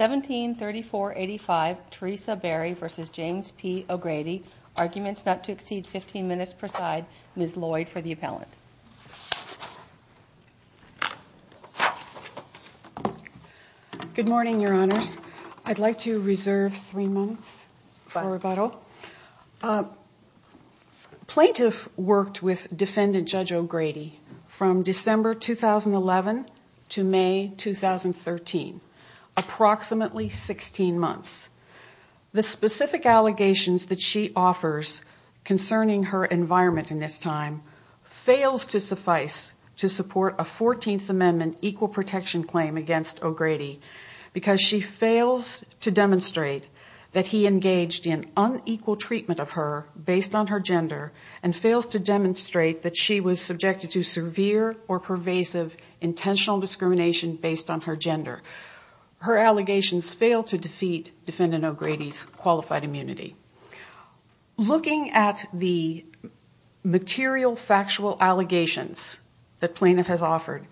1734-85 Teresa Barry v. James P. O'Grady Arguments Not to Exceed 15 Minutes Preside Ms. Lloyd for the appellant. Good morning, Your Honors. I'd like to reserve three minutes for rebuttal. Plaintiff worked with Defendant Judge O'Grady from December 2011 to May 2013, approximately 16 months. The specific allegations that she offers concerning her environment in this time fails to suffice to support a 14th Amendment equal protection claim against O'Grady because she fails to equal treatment of her based on her gender and fails to demonstrate that she was subjected to severe or pervasive intentional discrimination based on her gender. Her allegations fail to defeat Defendant O'Grady's qualified immunity. Looking at the material factual allegations that plaintiff has offered,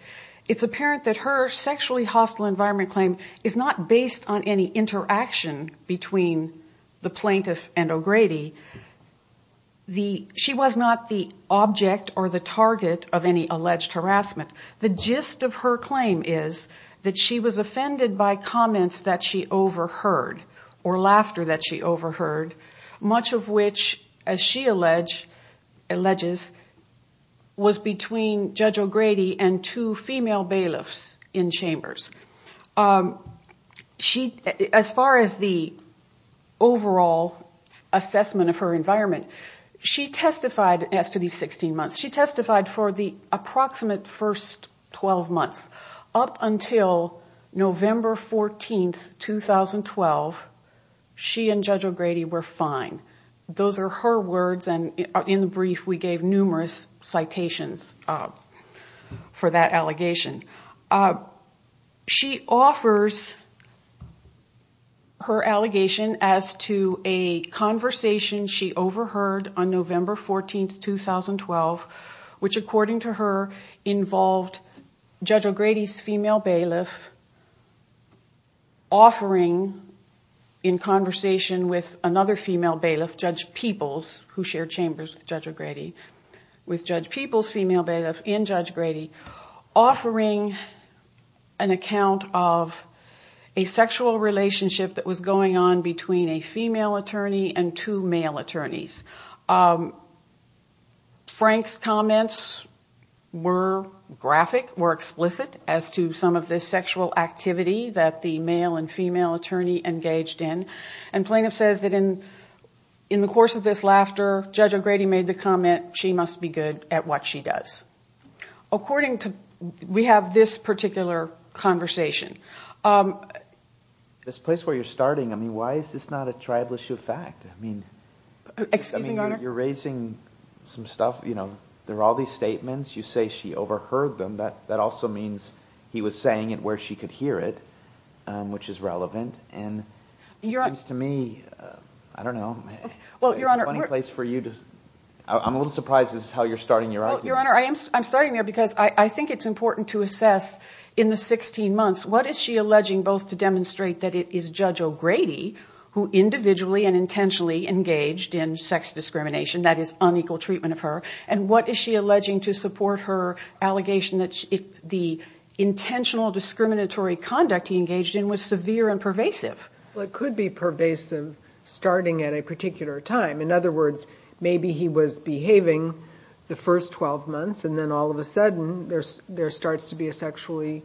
it's apparent that her sexually hostile environment claim is not based on any interaction between the O'Grady, she was not the object or the target of any alleged harassment. The gist of her claim is that she was offended by comments that she overheard or laughter that she overheard, much of which, as she alleges, was between Judge O'Grady and two female bailiffs in Chambers. As far as the overall assessment of her environment, she testified as to these 16 months, she testified for the approximate first 12 months up until November 14th, 2012, she and Judge O'Grady were fine. Those are her words and in the brief we gave numerous citations for that allegation. She offers her allegation as to a conversation she overheard on November 14th, 2012, which according to her involved Judge O'Grady's female bailiff offering in conversation with another female bailiff, Judge Peoples, who shared Chambers with Judge O'Grady, with Judge Peoples' female bailiff and Judge O'Grady offering an account of a sexual relationship that was going on between a female attorney and two male attorneys. Frank's comments were graphic, were explicit as to some of this sexual activity that the In the course of this laughter, Judge O'Grady made the comment, she must be good at what she does. According to, we have this particular conversation. This place where you're starting, I mean, why is this not a tribal issue of fact? I mean, you're raising some stuff, you know, there are all these statements, you say she overheard them, that also means he was saying it where she could hear it, which is relevant and seems to me, I don't know, a funny place for you to, I'm a little surprised this is how you're starting your argument. Your Honor, I'm starting there because I think it's important to assess in the 16 months, what is she alleging both to demonstrate that it is Judge O'Grady who individually and intentionally engaged in sex discrimination, that is unequal treatment of her, and what is she alleging to support her allegation that the intentional discriminatory conduct he engaged in was severe and pervasive? Well, it could be pervasive starting at a particular time. In other words, maybe he was behaving the first 12 months and then all of a sudden, there starts to be a sexually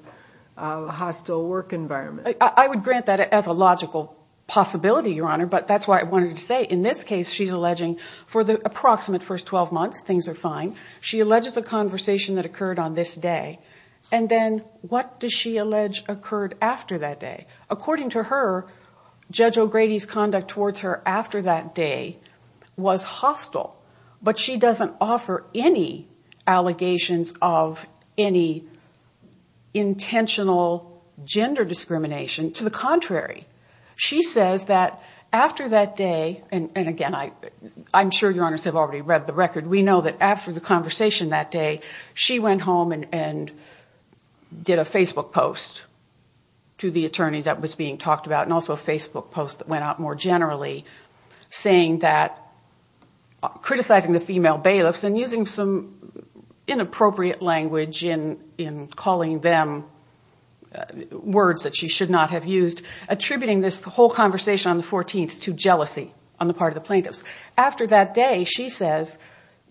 hostile work environment. I would grant that as a logical possibility, Your Honor, but that's why I wanted to say in this case, she's alleging for the approximate first 12 months, things are fine. She alleges a conversation that occurred on this day. And then what does she allege occurred after that day? According to her, Judge O'Grady's conduct towards her after that day was hostile. But she doesn't offer any allegations of any intentional gender discrimination. To the contrary, she says that after that day, and again, I'm sure Your Honors have already read the record. We know that after the conversation that day, she went home and did a Facebook post to the attorney that was being talked about and also a Facebook post that went out more generally saying that, criticizing the female bailiffs and using some inappropriate language in calling them words that she should not have used, attributing this whole conversation on the 14th to jealousy on the part of the plaintiffs. After that day, she says,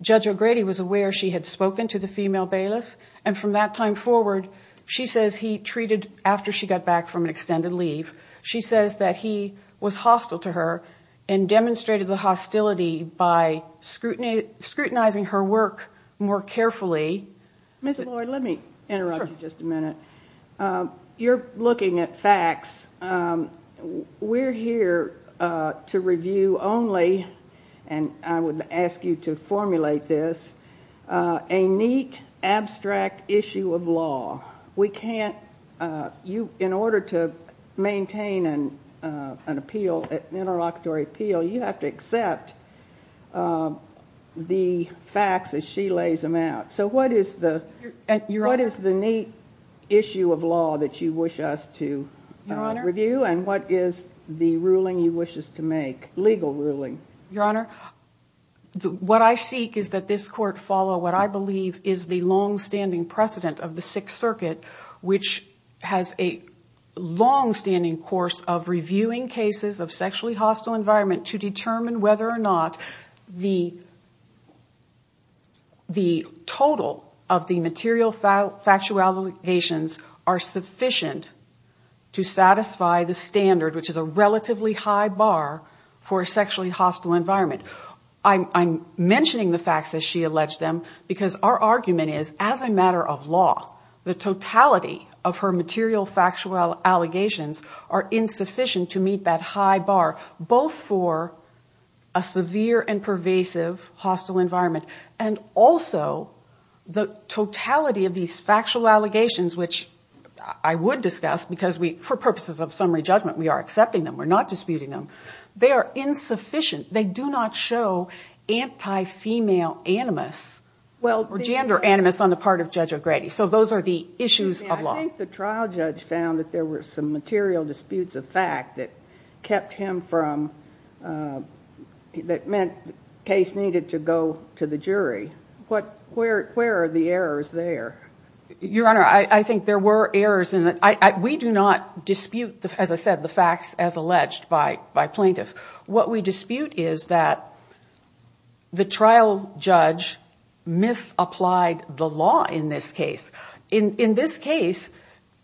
Judge O'Grady was aware she had spoken to the female bailiff. And from that time forward, she says he treated, after she got back from an extended leave, she says that he was hostile to her and demonstrated the hostility by scrutinizing her work more carefully. Ms. Lloyd, let me interrupt you just a minute. You're looking at facts. We're here to review only, and I would ask you to formulate this, a neat, abstract issue of law. We can't, in order to maintain an appeal, an interlocutory appeal, you have to accept the facts as she lays them out. So what is the neat issue of law that you wish us to? Review, and what is the ruling you wish us to make, legal ruling? Your Honor, what I seek is that this Court follow what I believe is the longstanding precedent of the Sixth Circuit, which has a longstanding course of reviewing cases of sexually hostile environment to determine whether or not the total of the material factual allegations are sufficient to satisfy the standard, which is a relatively high bar, for a sexually hostile environment. I'm mentioning the facts as she alleged them because our argument is, as a matter of law, the totality of her material factual allegations are insufficient to meet that high bar, both for a severe and pervasive hostile environment, and also the totality of these factual allegations, which I would discuss, because for purposes of summary judgment, we are accepting them, we're not disputing them, they are insufficient. They do not show anti-female animus, or gender animus, on the part of Judge O'Grady. So those are the issues of law. I think the trial judge found that there were some material disputes of fact that kept him from, that meant the case needed to go to the jury. What, where are the errors there? Your Honor, I think there were errors, and we do not dispute, as I said, the facts as alleged by plaintiffs. What we dispute is that the trial judge misapplied the law in this case. In this case,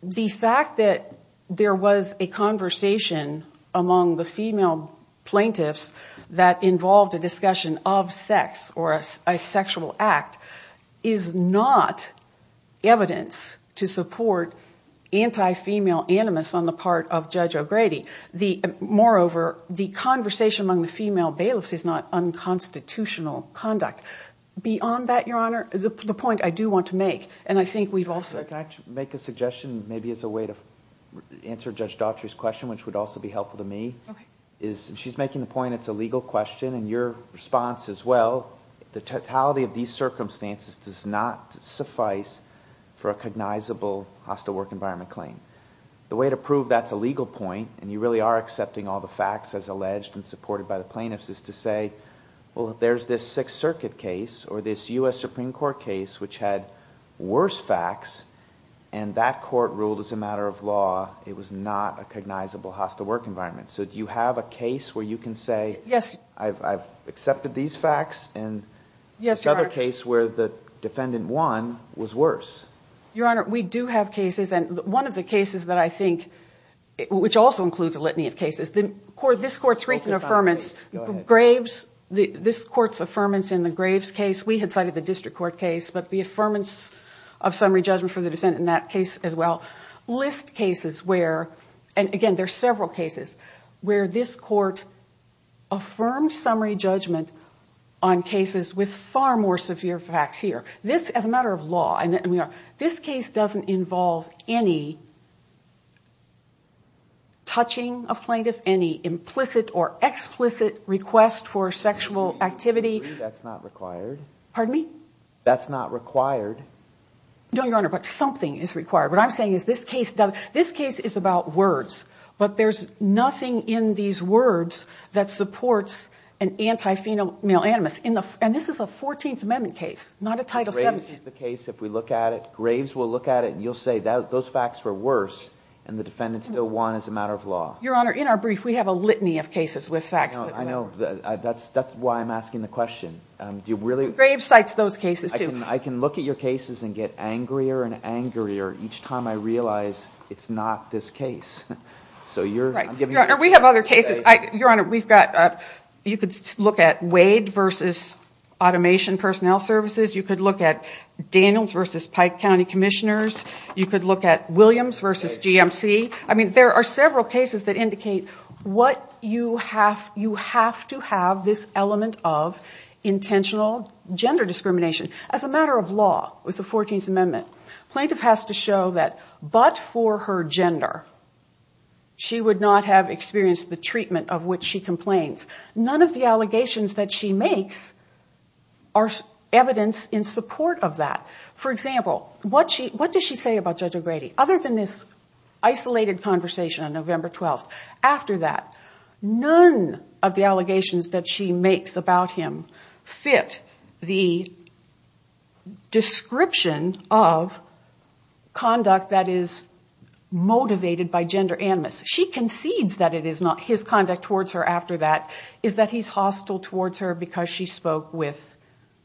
the fact that there was a conversation among the female plaintiffs that involved a discussion of sex, or a sexual act, is not evidence to support anti-female animus on the part of Judge O'Grady. The, moreover, the conversation among the female bailiffs is not unconstitutional conduct. Beyond that, Your Honor, the point I do want to make, and I think we've also- Can I make a suggestion, maybe as a way to answer Judge Daughtry's question, which would also be helpful to me? Okay. Is, she's making the point it's a legal question, and your response as well, the totality of these circumstances does not suffice for a cognizable hostile work environment claim. The way to prove that's a legal point, and you really are accepting all the facts as alleged and supported by the plaintiffs, is to say, well, if there's this Sixth Circuit case, or this U.S. Supreme Court case, which had worse facts, and that court ruled as a matter of law, it was not a cognizable hostile work environment. So, do you have a case where you can say, I've accepted these facts, and another case where the defendant won was worse? Your Honor, we do have cases, and one of the cases that I think, which also includes a litany of cases, this Court's recent affirmance, Graves, this Court's affirmance in the Graves case, we had cited the District Court case, but the affirmance of summary judgment for the defendant in that case as well, lists cases where, and again, there's several cases, where this Court affirmed summary judgment on cases with far more severe facts here. This, as a matter of law, and we are, this case doesn't involve any touching of plaintiff, any implicit or explicit request for sexual activity. That's not required. Pardon me? That's not required. No, Your Honor, but something is required. What I'm saying is this case, this case is about words, but there's nothing in these words that supports an anti-female animus. And this is a 14th Amendment case, not a Title 17. Graves is the case, if we look at it, Graves will look at it, and you'll say those facts were worse, and the defendant still won as a matter of law. Your Honor, in our brief, we have a litany of cases with facts that won. I know, that's why I'm asking the question. Do you really? Graves cites those cases, too. I can look at your cases and get angrier and angrier each time I realize it's not this case. So you're, I'm giving you a chance to say. We have other cases. Your Honor, we've got, you could look at Wade versus Automation Personnel Services. You could look at Daniels versus Pike County Commissioners. You could look at Williams versus GMC. I mean, there are several cases that indicate what you have, you have to have this element of intentional gender discrimination. As a matter of law, with the 14th Amendment, plaintiff has to show that but for her gender, she would not have experienced the treatment of which she complains. None of the allegations that she makes are evidence in support of that. For example, what does she say about Judge O'Grady? Other than this isolated conversation on November 12th. After that, none of the allegations that she makes about him fit the description of conduct that is motivated by gender animus. She concedes that it is not his conduct towards her after that, is that he's hostile towards her because she spoke with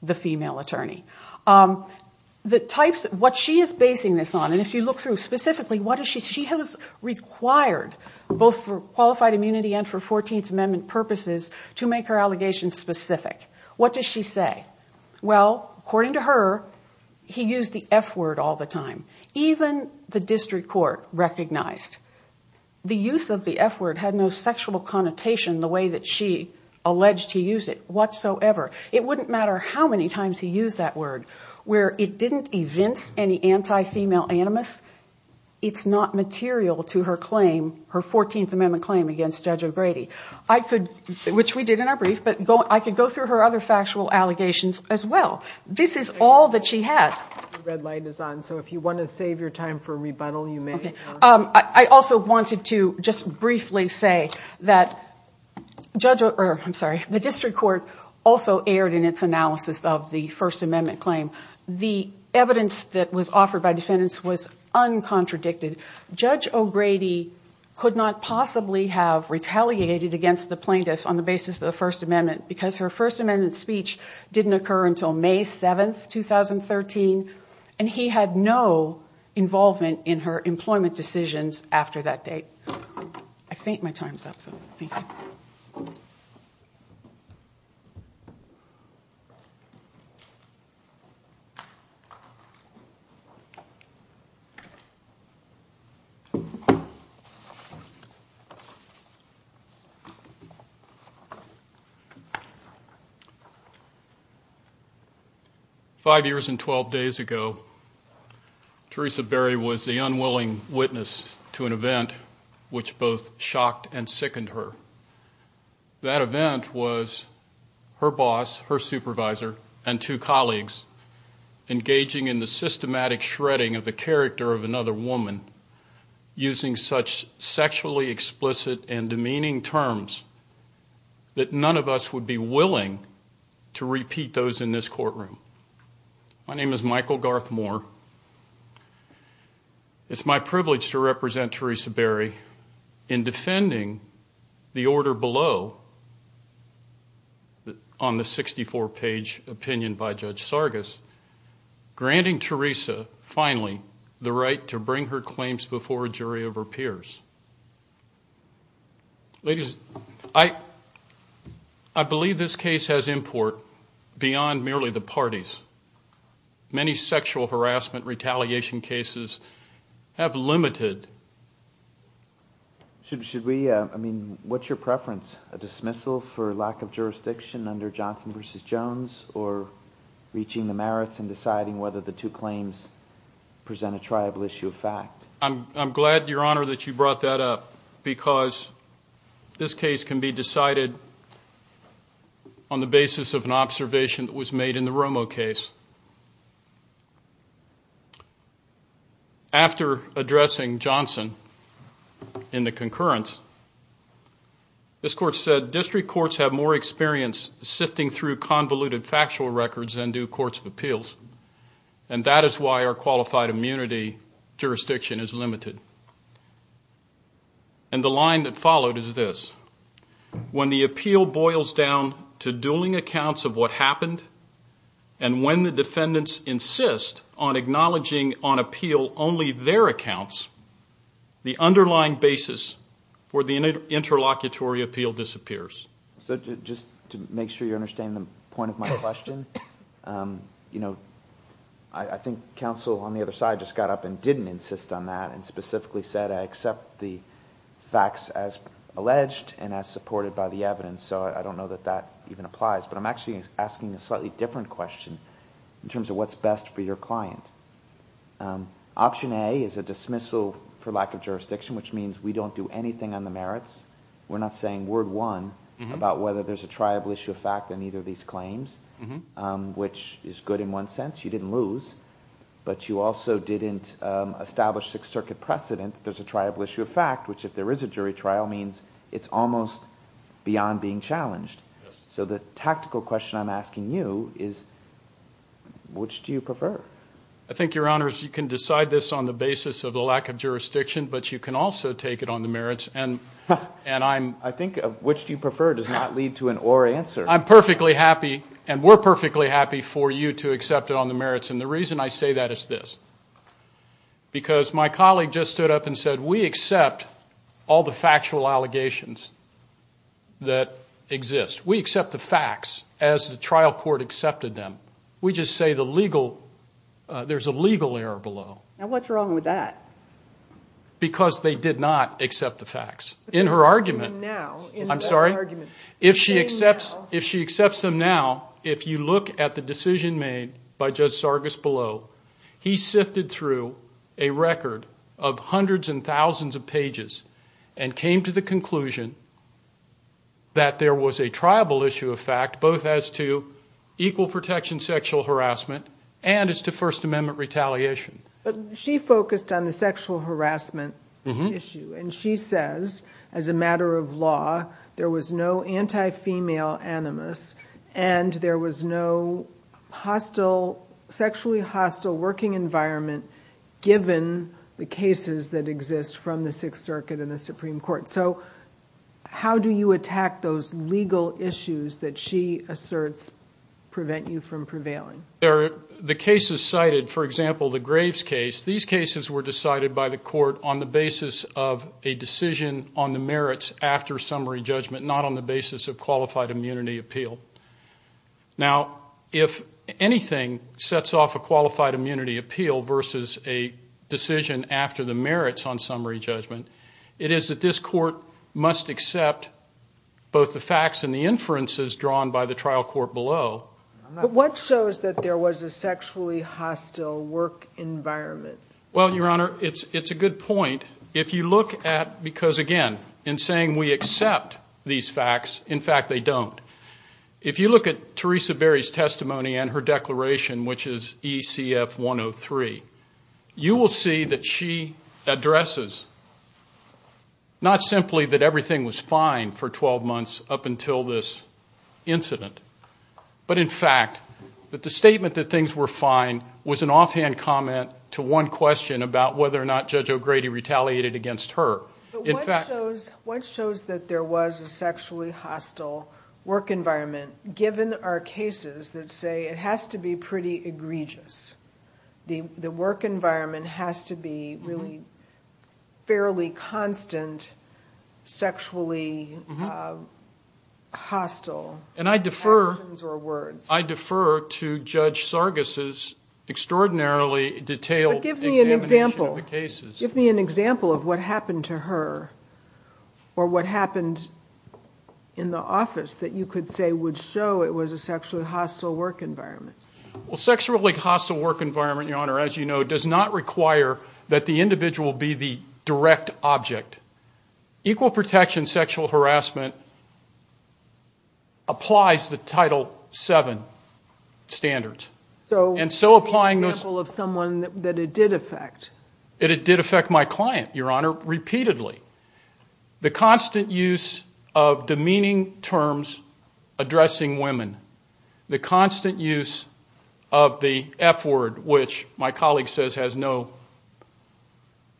the female attorney. The types, what she is basing this on, and if you look through specifically, she has required both for qualified immunity and for 14th Amendment purposes to make her allegations specific. What does she say? Well, according to her, he used the F word all the time. Even the district court recognized the use of the F word had no sexual connotation the way that she alleged to use it whatsoever. It wouldn't matter how many times he used that word where it didn't evince any anti-female animus. It's not material to her claim, her 14th Amendment claim against Judge O'Grady. I could, which we did in our brief, but I could go through her other factual allegations as well. This is all that she has. The red light is on, so if you want to save your time for rebuttal, you may. I also wanted to just briefly say that the district court also aired in its analysis of the First Amendment claim. The evidence that was offered by defendants was uncontradicted. Judge O'Grady could not possibly have retaliated against the plaintiff on the basis of the First Amendment, because her First Amendment speech didn't occur until May 7th, 2013. And he had no involvement in her employment decisions after that date. I think my time's up, so thank you. Five years and 12 days ago, Teresa Berry was the unwilling witness to an event which both shocked and sickened her. That event was her boss, her supervisor, and two colleagues engaging in the systematic shredding of the character of another woman using such sexually explicit and demeaning terms that none of us would be willing to repeat those in this courtroom. My name is Michael Garth Moore. It's my privilege to represent Teresa Berry in defending the order below on the 64-page opinion by Judge Sargas, granting Teresa finally the right to bring her claims before a jury of her peers. Ladies, I believe this case has import beyond merely the parties. Many sexual harassment retaliation cases have limited... Should we, I mean, what's your preference? A dismissal for lack of jurisdiction under Johnson v. Jones, or reaching the merits and deciding whether the two claims present a triable issue of fact? I'm glad, Your Honor, that you brought that up, because this case can be decided on the basis of an observation that was made in the Romo case. After addressing Johnson in the concurrence, this court said district courts have more experience sifting through convoluted factual records than do courts of appeals, and that is why our qualified immunity jurisdiction is limited. And the line that followed is this. When the appeal boils down to dueling accounts of what happened, and when the defendants insist on acknowledging on appeal only their accounts, the underlying basis for the interlocutory appeal disappears. So, just to make sure you understand the point of my question, you know, I think counsel on the other side just got up and didn't insist on that, and specifically said I accept the facts as alleged and as supported by the evidence, so I don't know that that even applies. But I'm actually asking a slightly different question in terms of what's best for your client. Option A is a dismissal for lack of jurisdiction, which means we don't do anything on the merits. We're not saying word one about whether there's a triable issue of fact in either of these claims, which is good in one sense. You didn't lose, but you also didn't establish Sixth Circuit precedent. There's a triable issue of fact, which if there is a jury trial means it's almost beyond being challenged. So the tactical question I'm asking you is which do you prefer? I think, Your Honors, you can decide this on the basis of the lack of jurisdiction, but you can also take it on the merits, and I'm... I think which do you prefer does not lead to an or answer. I'm perfectly happy, and we're perfectly happy for you to accept it on the merits, and the reason I say that is this. Because my colleague just stood up and said, we accept all the factual allegations that exist. We accept the facts as the trial court accepted them. We just say the legal, there's a legal error below. Now what's wrong with that? Because they did not accept the facts. In her argument, I'm sorry, if she accepts, if she accepts them now, if you look at the decision made by Judge Sargas below, he sifted through a record of hundreds and thousands of pages and came to the conclusion that there was a triable issue of fact, both as to equal protection sexual harassment and as to First Amendment retaliation. But she focused on the sexual harassment issue, and she says as a matter of law, there was no anti-female animus, and there was no hostile, sexually hostile working environment given the cases that exist from the Sixth Circuit and the Supreme Court. So how do you attack those legal issues that she asserts prevent you from prevailing? There are the cases cited, for example, the Graves case. These cases were decided by the court on the basis of a decision on the merits after summary judgment, not on the basis of qualified immunity appeal. Now, if anything sets off a qualified immunity appeal versus a decision after the merits on summary judgment, it is that this court must accept both the facts and the inferences drawn by the trial court below. But what shows that there was a sexually hostile work environment? Well, Your Honor, it's a good point. If you look at, because again, in saying we accept these facts, in fact, they don't. If you look at Teresa Berry's testimony and her declaration, which is ECF 103, you will see that she addresses not simply that everything was fine for 12 months up until this incident, but in fact, that the statement that things were fine was an offhand comment to one question about whether or not Judge O'Grady retaliated against her. What shows that there was a sexually hostile work environment, given our cases that say it has to be pretty egregious? The work environment has to be really fairly constant, sexually hostile? And I defer to Judge Sargas' extraordinarily detailed examination of the cases. Give me an example of what happened to her or what happened in the office that you could say would show it was a sexually hostile work environment. Well, sexually hostile work environment, Your Honor, as you know, does not require that the individual be the direct object. Equal protection sexual harassment applies the Title VII standards. And so applying those... Give me an example of someone that it did affect. It did affect my client, Your Honor, repeatedly. The constant use of demeaning terms addressing women, the constant use of the F word, which my colleague says has no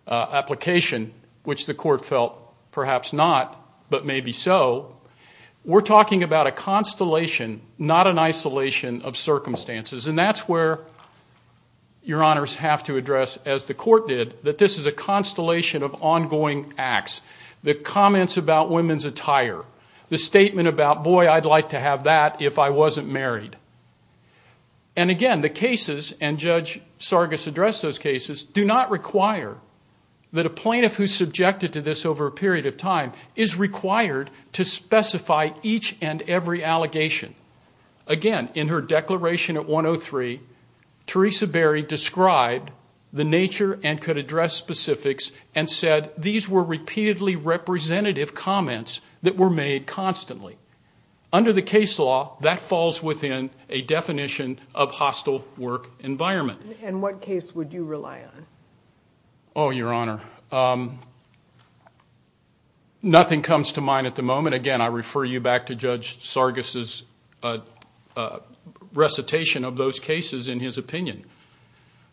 application, which the court felt perhaps not, but maybe so. We're talking about a constellation, not an isolation of circumstances. And that's where Your Honors have to address, as the court did, that this is a constellation of ongoing acts. The comments about women's attire. The statement about, boy, I'd like to have that if I wasn't married. And again, the cases, and Judge Sargas addressed those cases, do not require that a plaintiff who's subjected to this over a period of time is required to specify each and every allegation. Again, in her declaration at 103, Teresa Berry described the nature and could address specifics and said these were repeatedly representative comments that were made constantly. Under the case law, that falls within a definition of hostile work environment. And what case would you rely on? Oh, Your Honor. Nothing comes to mind at the moment. Again, I refer you back to Judge Sargas' recitation of those cases in his opinion.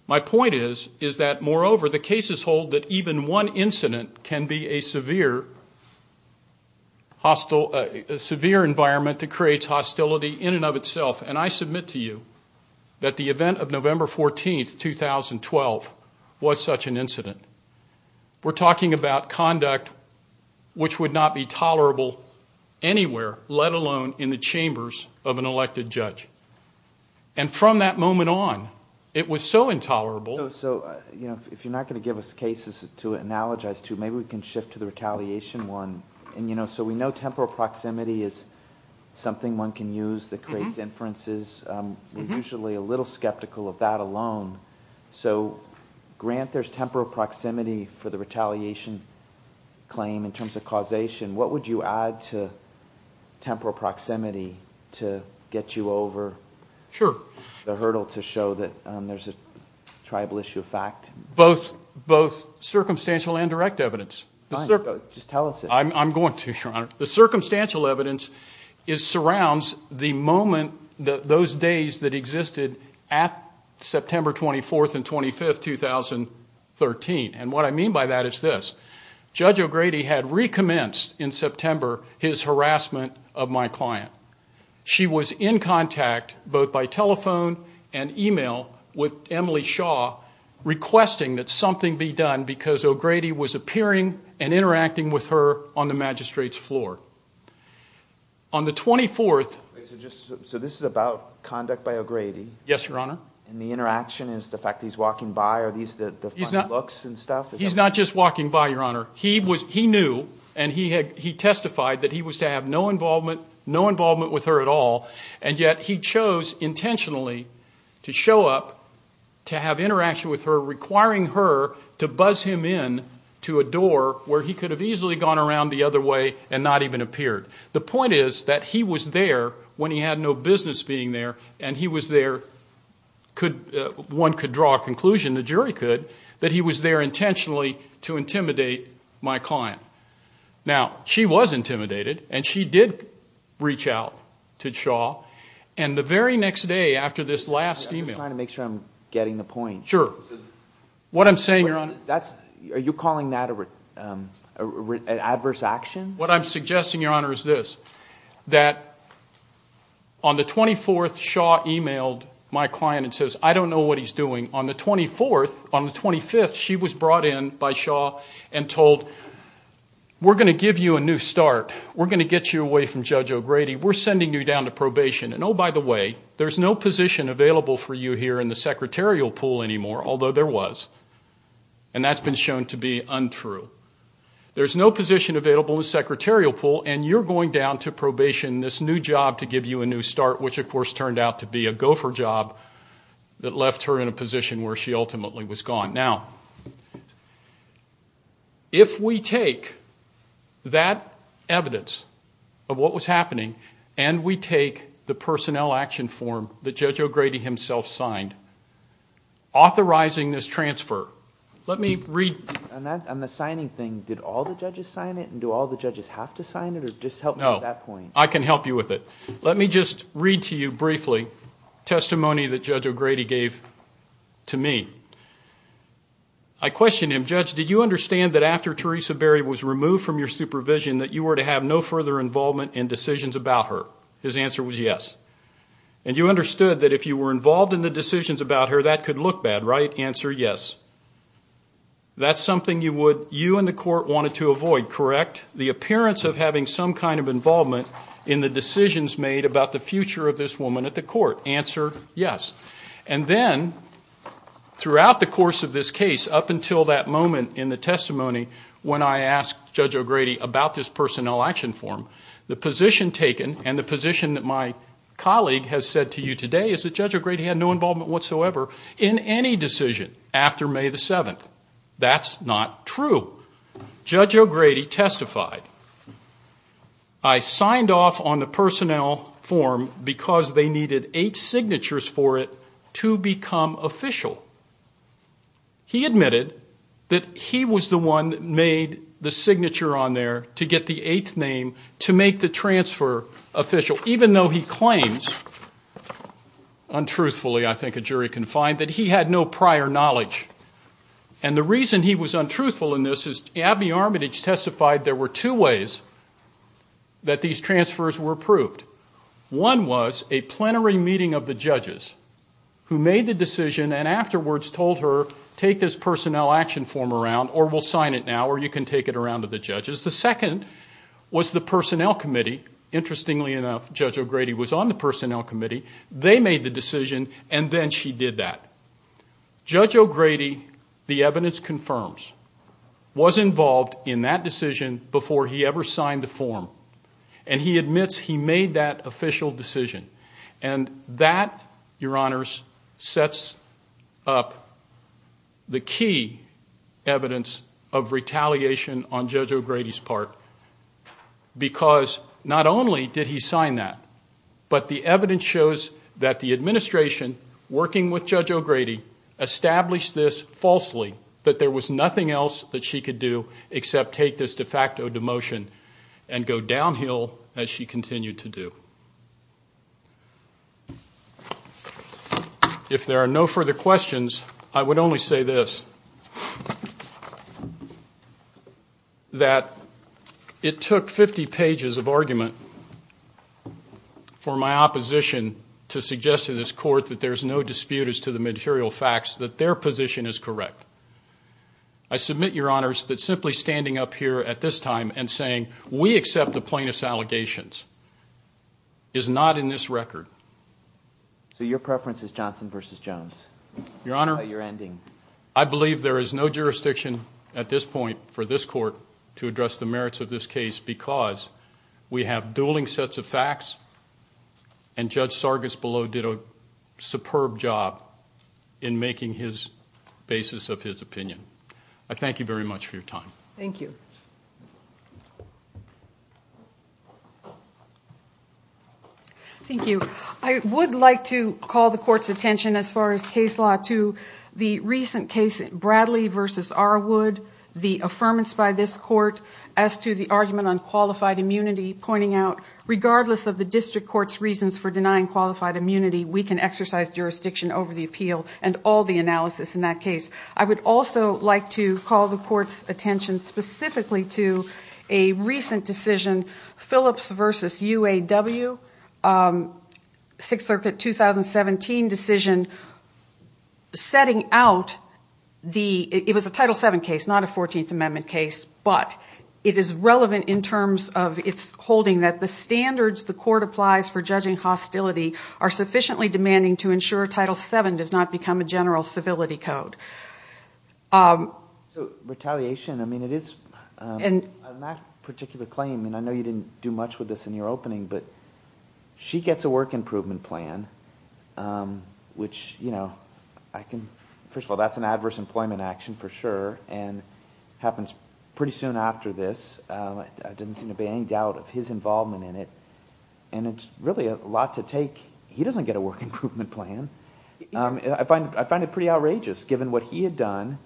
My point is, is that moreover, the cases hold that even one incident can be a severe hostile, severe environment that creates hostility in and of itself. And I submit to you that the event of November 14, 2012, was such an incident. We're talking about conduct which would not be tolerable anywhere, let alone in the chambers of an elected judge. And from that moment on, it was so intolerable. So, you know, if you're not going to give us cases to analogize to, maybe we can shift to the retaliation one. And, you know, so we know temporal proximity is something one can use that creates inferences. We're usually a little skeptical of that alone. So, Grant, there's temporal proximity for the retaliation claim in terms of causation. What would you add to temporal proximity to get you over the hurdle to show that there's a tribal issue of fact? Both circumstantial and direct evidence. Fine, just tell us. I'm going to, Your Honor. The circumstantial evidence surrounds the moment, those days that existed at September 24th and 25th, 2013. And what I mean by that is this. Judge O'Grady had recommenced in September his harassment of my client. She was in contact both by telephone and email with Emily Shaw, requesting that something be done because O'Grady was appearing and interacting with her on the magistrate's floor. On the 24th. So this is about conduct by O'Grady. Yes, Your Honor. And the interaction is the fact that he's walking by. Are these the funny looks and stuff? He's not just walking by, Your Honor. He knew and he testified that he was to have no involvement with her at all. And yet he chose intentionally to show up, to have interaction with her, requiring her to buzz him in to a door where he could have easily gone around the other way and not even appeared. The point is that he was there when he had no business being there. And he was there, one could draw a conclusion, the jury could, that he was there intentionally to intimidate my client. Now, she was intimidated and she did reach out to Shaw. And the very next day after this last email. I'm trying to make sure I'm getting the point. Sure. What I'm saying, Your Honor. Are you calling that an adverse action? What I'm suggesting, Your Honor, is this, that on the 24th, Shaw emailed my client and says, I don't know what he's doing. On the 24th, on the 25th, she was brought in by Shaw and told, we're going to give you a new start. We're going to get you away from Judge O'Grady. We're sending you down to probation. And oh, by the way, there's no position available for you here in the secretarial pool anymore, although there was. And that's been shown to be untrue. There's no position available in the secretarial pool and you're going down to probation, this new job to give you a new start, which of course turned out to be a gopher job that left her in a position where she ultimately was gone. Now, if we take that evidence of what was happening and we take the personnel action form that Judge O'Grady himself signed, authorizing this transfer, let me read. On the signing thing, did all the judges sign it? And do all the judges have to sign it? Or just help me with that point. I can help you with it. Let me just read to you briefly testimony that Judge O'Grady gave to me. I questioned him. Judge, did you understand that after Teresa Berry was removed from your supervision that you were to have no further involvement in decisions about her? His answer was yes. And you understood that if you were involved in the decisions about her, that could look bad, right? Answer, yes. That's something you would, you and the court wanted to avoid, correct? The appearance of having some kind of involvement in the decisions made about the future of this woman at the court. Answer, yes. And then throughout the course of this case, up until that moment in the testimony when I asked Judge O'Grady about this personnel action form, the position taken and the position that my colleague has said to you today is that Judge O'Grady had no involvement whatsoever in any decision after May the 7th. That's not true. Judge O'Grady testified. I signed off on the personnel form because they needed eight signatures for it to become official. He admitted that he was the one that made the signature on there to get the eighth name to make the transfer official, even though he claims, untruthfully, I think a jury can find, that he had no prior knowledge. And the reason he was untruthful in this is Abby Armitage testified there were two ways that these transfers were approved. One was a plenary meeting of the judges who made the decision and afterwards told her, take this personnel action form around or we'll sign it now or you can take it around to the judges. The second was the personnel committee. Interestingly enough, Judge O'Grady was on the personnel committee. They made the decision and then she did that. Judge O'Grady, the evidence confirms, was involved in that decision before he ever signed the form and he admits he made that official decision. And that, your honors, sets up the key evidence of retaliation on Judge O'Grady's part because not only did he sign that, but the evidence shows that the administration working with Judge O'Grady established this falsely, that there was nothing else that she could do except take this de facto demotion and go downhill as she continued to do. If there are no further questions, I would only say this, that it took 50 pages of argument for my opposition to suggest to this court that there's no dispute as to the material facts that their position is correct. I submit, your honors, that simply standing up here at this time and saying, we accept the plaintiff's allegations, is not in this record. So your preference is Johnson versus Jones? Your honor, I believe there is no jurisdiction at this point for this court to address the merits of this case because we have dueling sets of facts and Judge Sargis below did a superb job in making his basis of his opinion. I thank you very much for your time. Thank you. Thank you. I would like to call the court's attention as far as case law to the recent case Bradley versus Arwood, the affirmance by this court as to the argument on qualified immunity, pointing out, regardless of the district court's reasons for denying qualified immunity, we can exercise jurisdiction over the appeal and all the analysis in that case. I would also like to call the court's attention specifically to a recent decision, Phillips versus UAW, Sixth Circuit 2017 decision, setting out the, it was a Title VII case, not a 14th Amendment case, but it is relevant in terms of its holding that the standards the court applies for judging hostility are sufficiently demanding to ensure Title VII does not become a general civility code. So retaliation, I mean, it is, on that particular claim, and I know you didn't do much with this in your opening, but she gets a work improvement plan, which, you know, I can, first of all, that's an adverse employment action for sure and happens pretty soon after this. I didn't seem to be in any doubt of his involvement in it, and it's really a lot to take. He doesn't get a work improvement plan. I find it pretty outrageous, given what he had done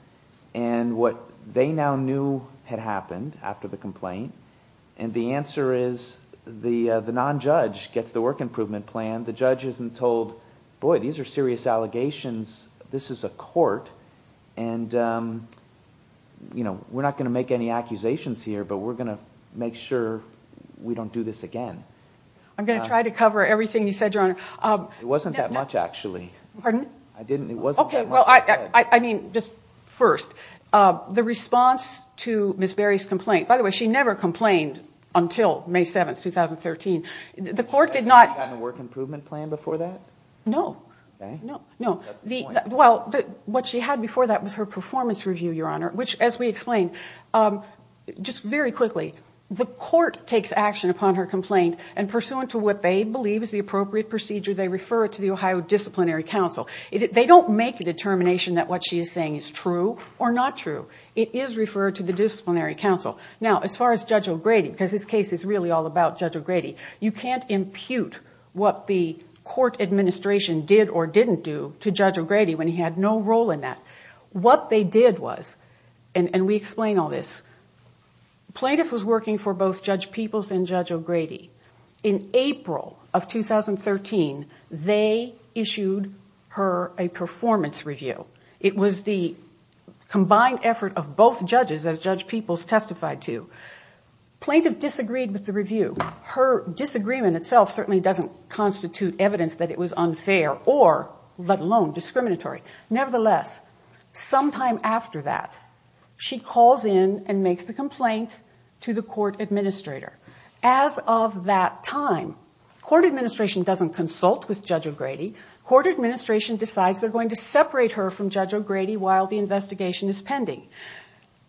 and what they now knew had happened after the complaint, and the answer is the non-judge gets the work improvement plan. The judge isn't told, boy, these are serious allegations. This is a court, and, you know, we're not going to make any accusations here, but we're going to make sure we don't do this again. I'm going to try to cover everything you said, Your Honor. It wasn't that much, actually. Pardon? I didn't, it wasn't. Okay, well, I mean, just first, the response to Ms. Berry's complaint, by the way, she never complained until May 7, 2013. The court did not. Had she gotten a work improvement plan before that? No, no, no. Well, what she had before that was her performance review, Your Honor, which, as we explained, just very quickly, the court takes action upon her complaint, and pursuant to what they believe is the appropriate procedure, they refer it to the Ohio Disciplinary Council. They don't make a determination that what she is saying is true or not true. It is referred to the Disciplinary Council. Now, as far as Judge O'Grady, because his case is really all about Judge O'Grady, you can't impute what the court administration did or didn't do to Judge O'Grady when he had no role in that. What they did was, and we explain all this, plaintiff was working for both Judge Peoples and Judge O'Grady. In April of 2013, they issued her a performance review. It was the combined effort of both judges, as Judge Peoples testified to. Plaintiff disagreed with the review. Her disagreement itself certainly doesn't constitute evidence that it was unfair or, let alone, discriminatory. Nevertheless, sometime after that, she calls in and makes the complaint to the court administrator. As of that time, court administration doesn't consult with Judge O'Grady. Court administration decides they're separate her from Judge O'Grady while the investigation is pending.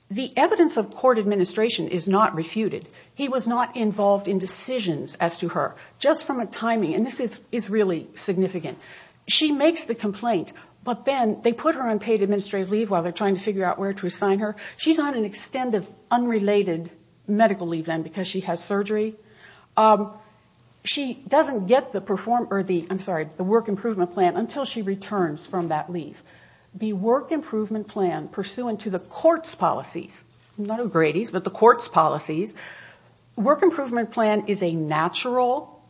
The evidence of court administration is not refuted. He was not involved in decisions as to her. Just from a timing, and this is really significant, she makes the complaint, but then they put her on paid administrative leave while they're trying to figure out where to assign her. She's on an extended, unrelated medical leave then because she has surgery. She doesn't get the work improvement plan until she returns from that leave. The work improvement plan pursuant to the court's policies, not O'Grady's, but the court's policies, work improvement plan is a natural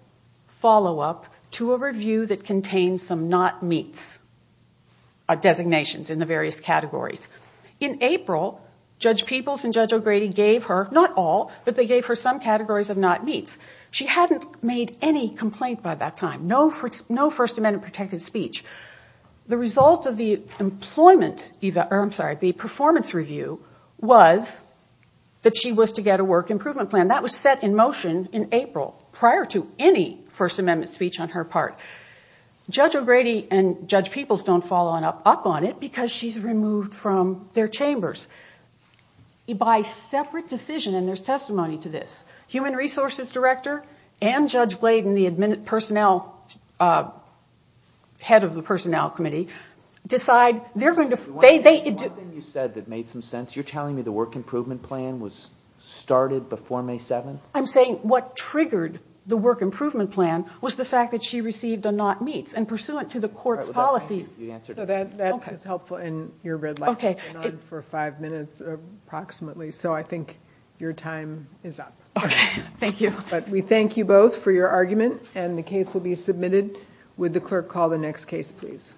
follow-up to a review that contains some not meets designations in the various categories. In April, Judge Peoples and Judge O'Grady gave her, not all, but they gave her some categories of not meets. She hadn't made any complaint by that time. No First Amendment protected speech. The result of the performance review was that she was to get a work improvement plan. That was set in motion in April prior to any First Amendment speech on her part. Judge O'Grady and Judge Peoples don't follow up on it because she's removed from their chambers by separate decision, and there's testimony to this. Human and the personnel, head of the personnel committee, decide they're going to... One thing you said that made some sense. You're telling me the work improvement plan was started before May 7th? I'm saying what triggered the work improvement plan was the fact that she received a not meets, and pursuant to the court's policy... So that is helpful, and your red light has been on for five minutes approximately, so I think your time is up. Okay, thank you. But we thank you both for your argument, and the case will be submitted. Would the clerk call the next case, please?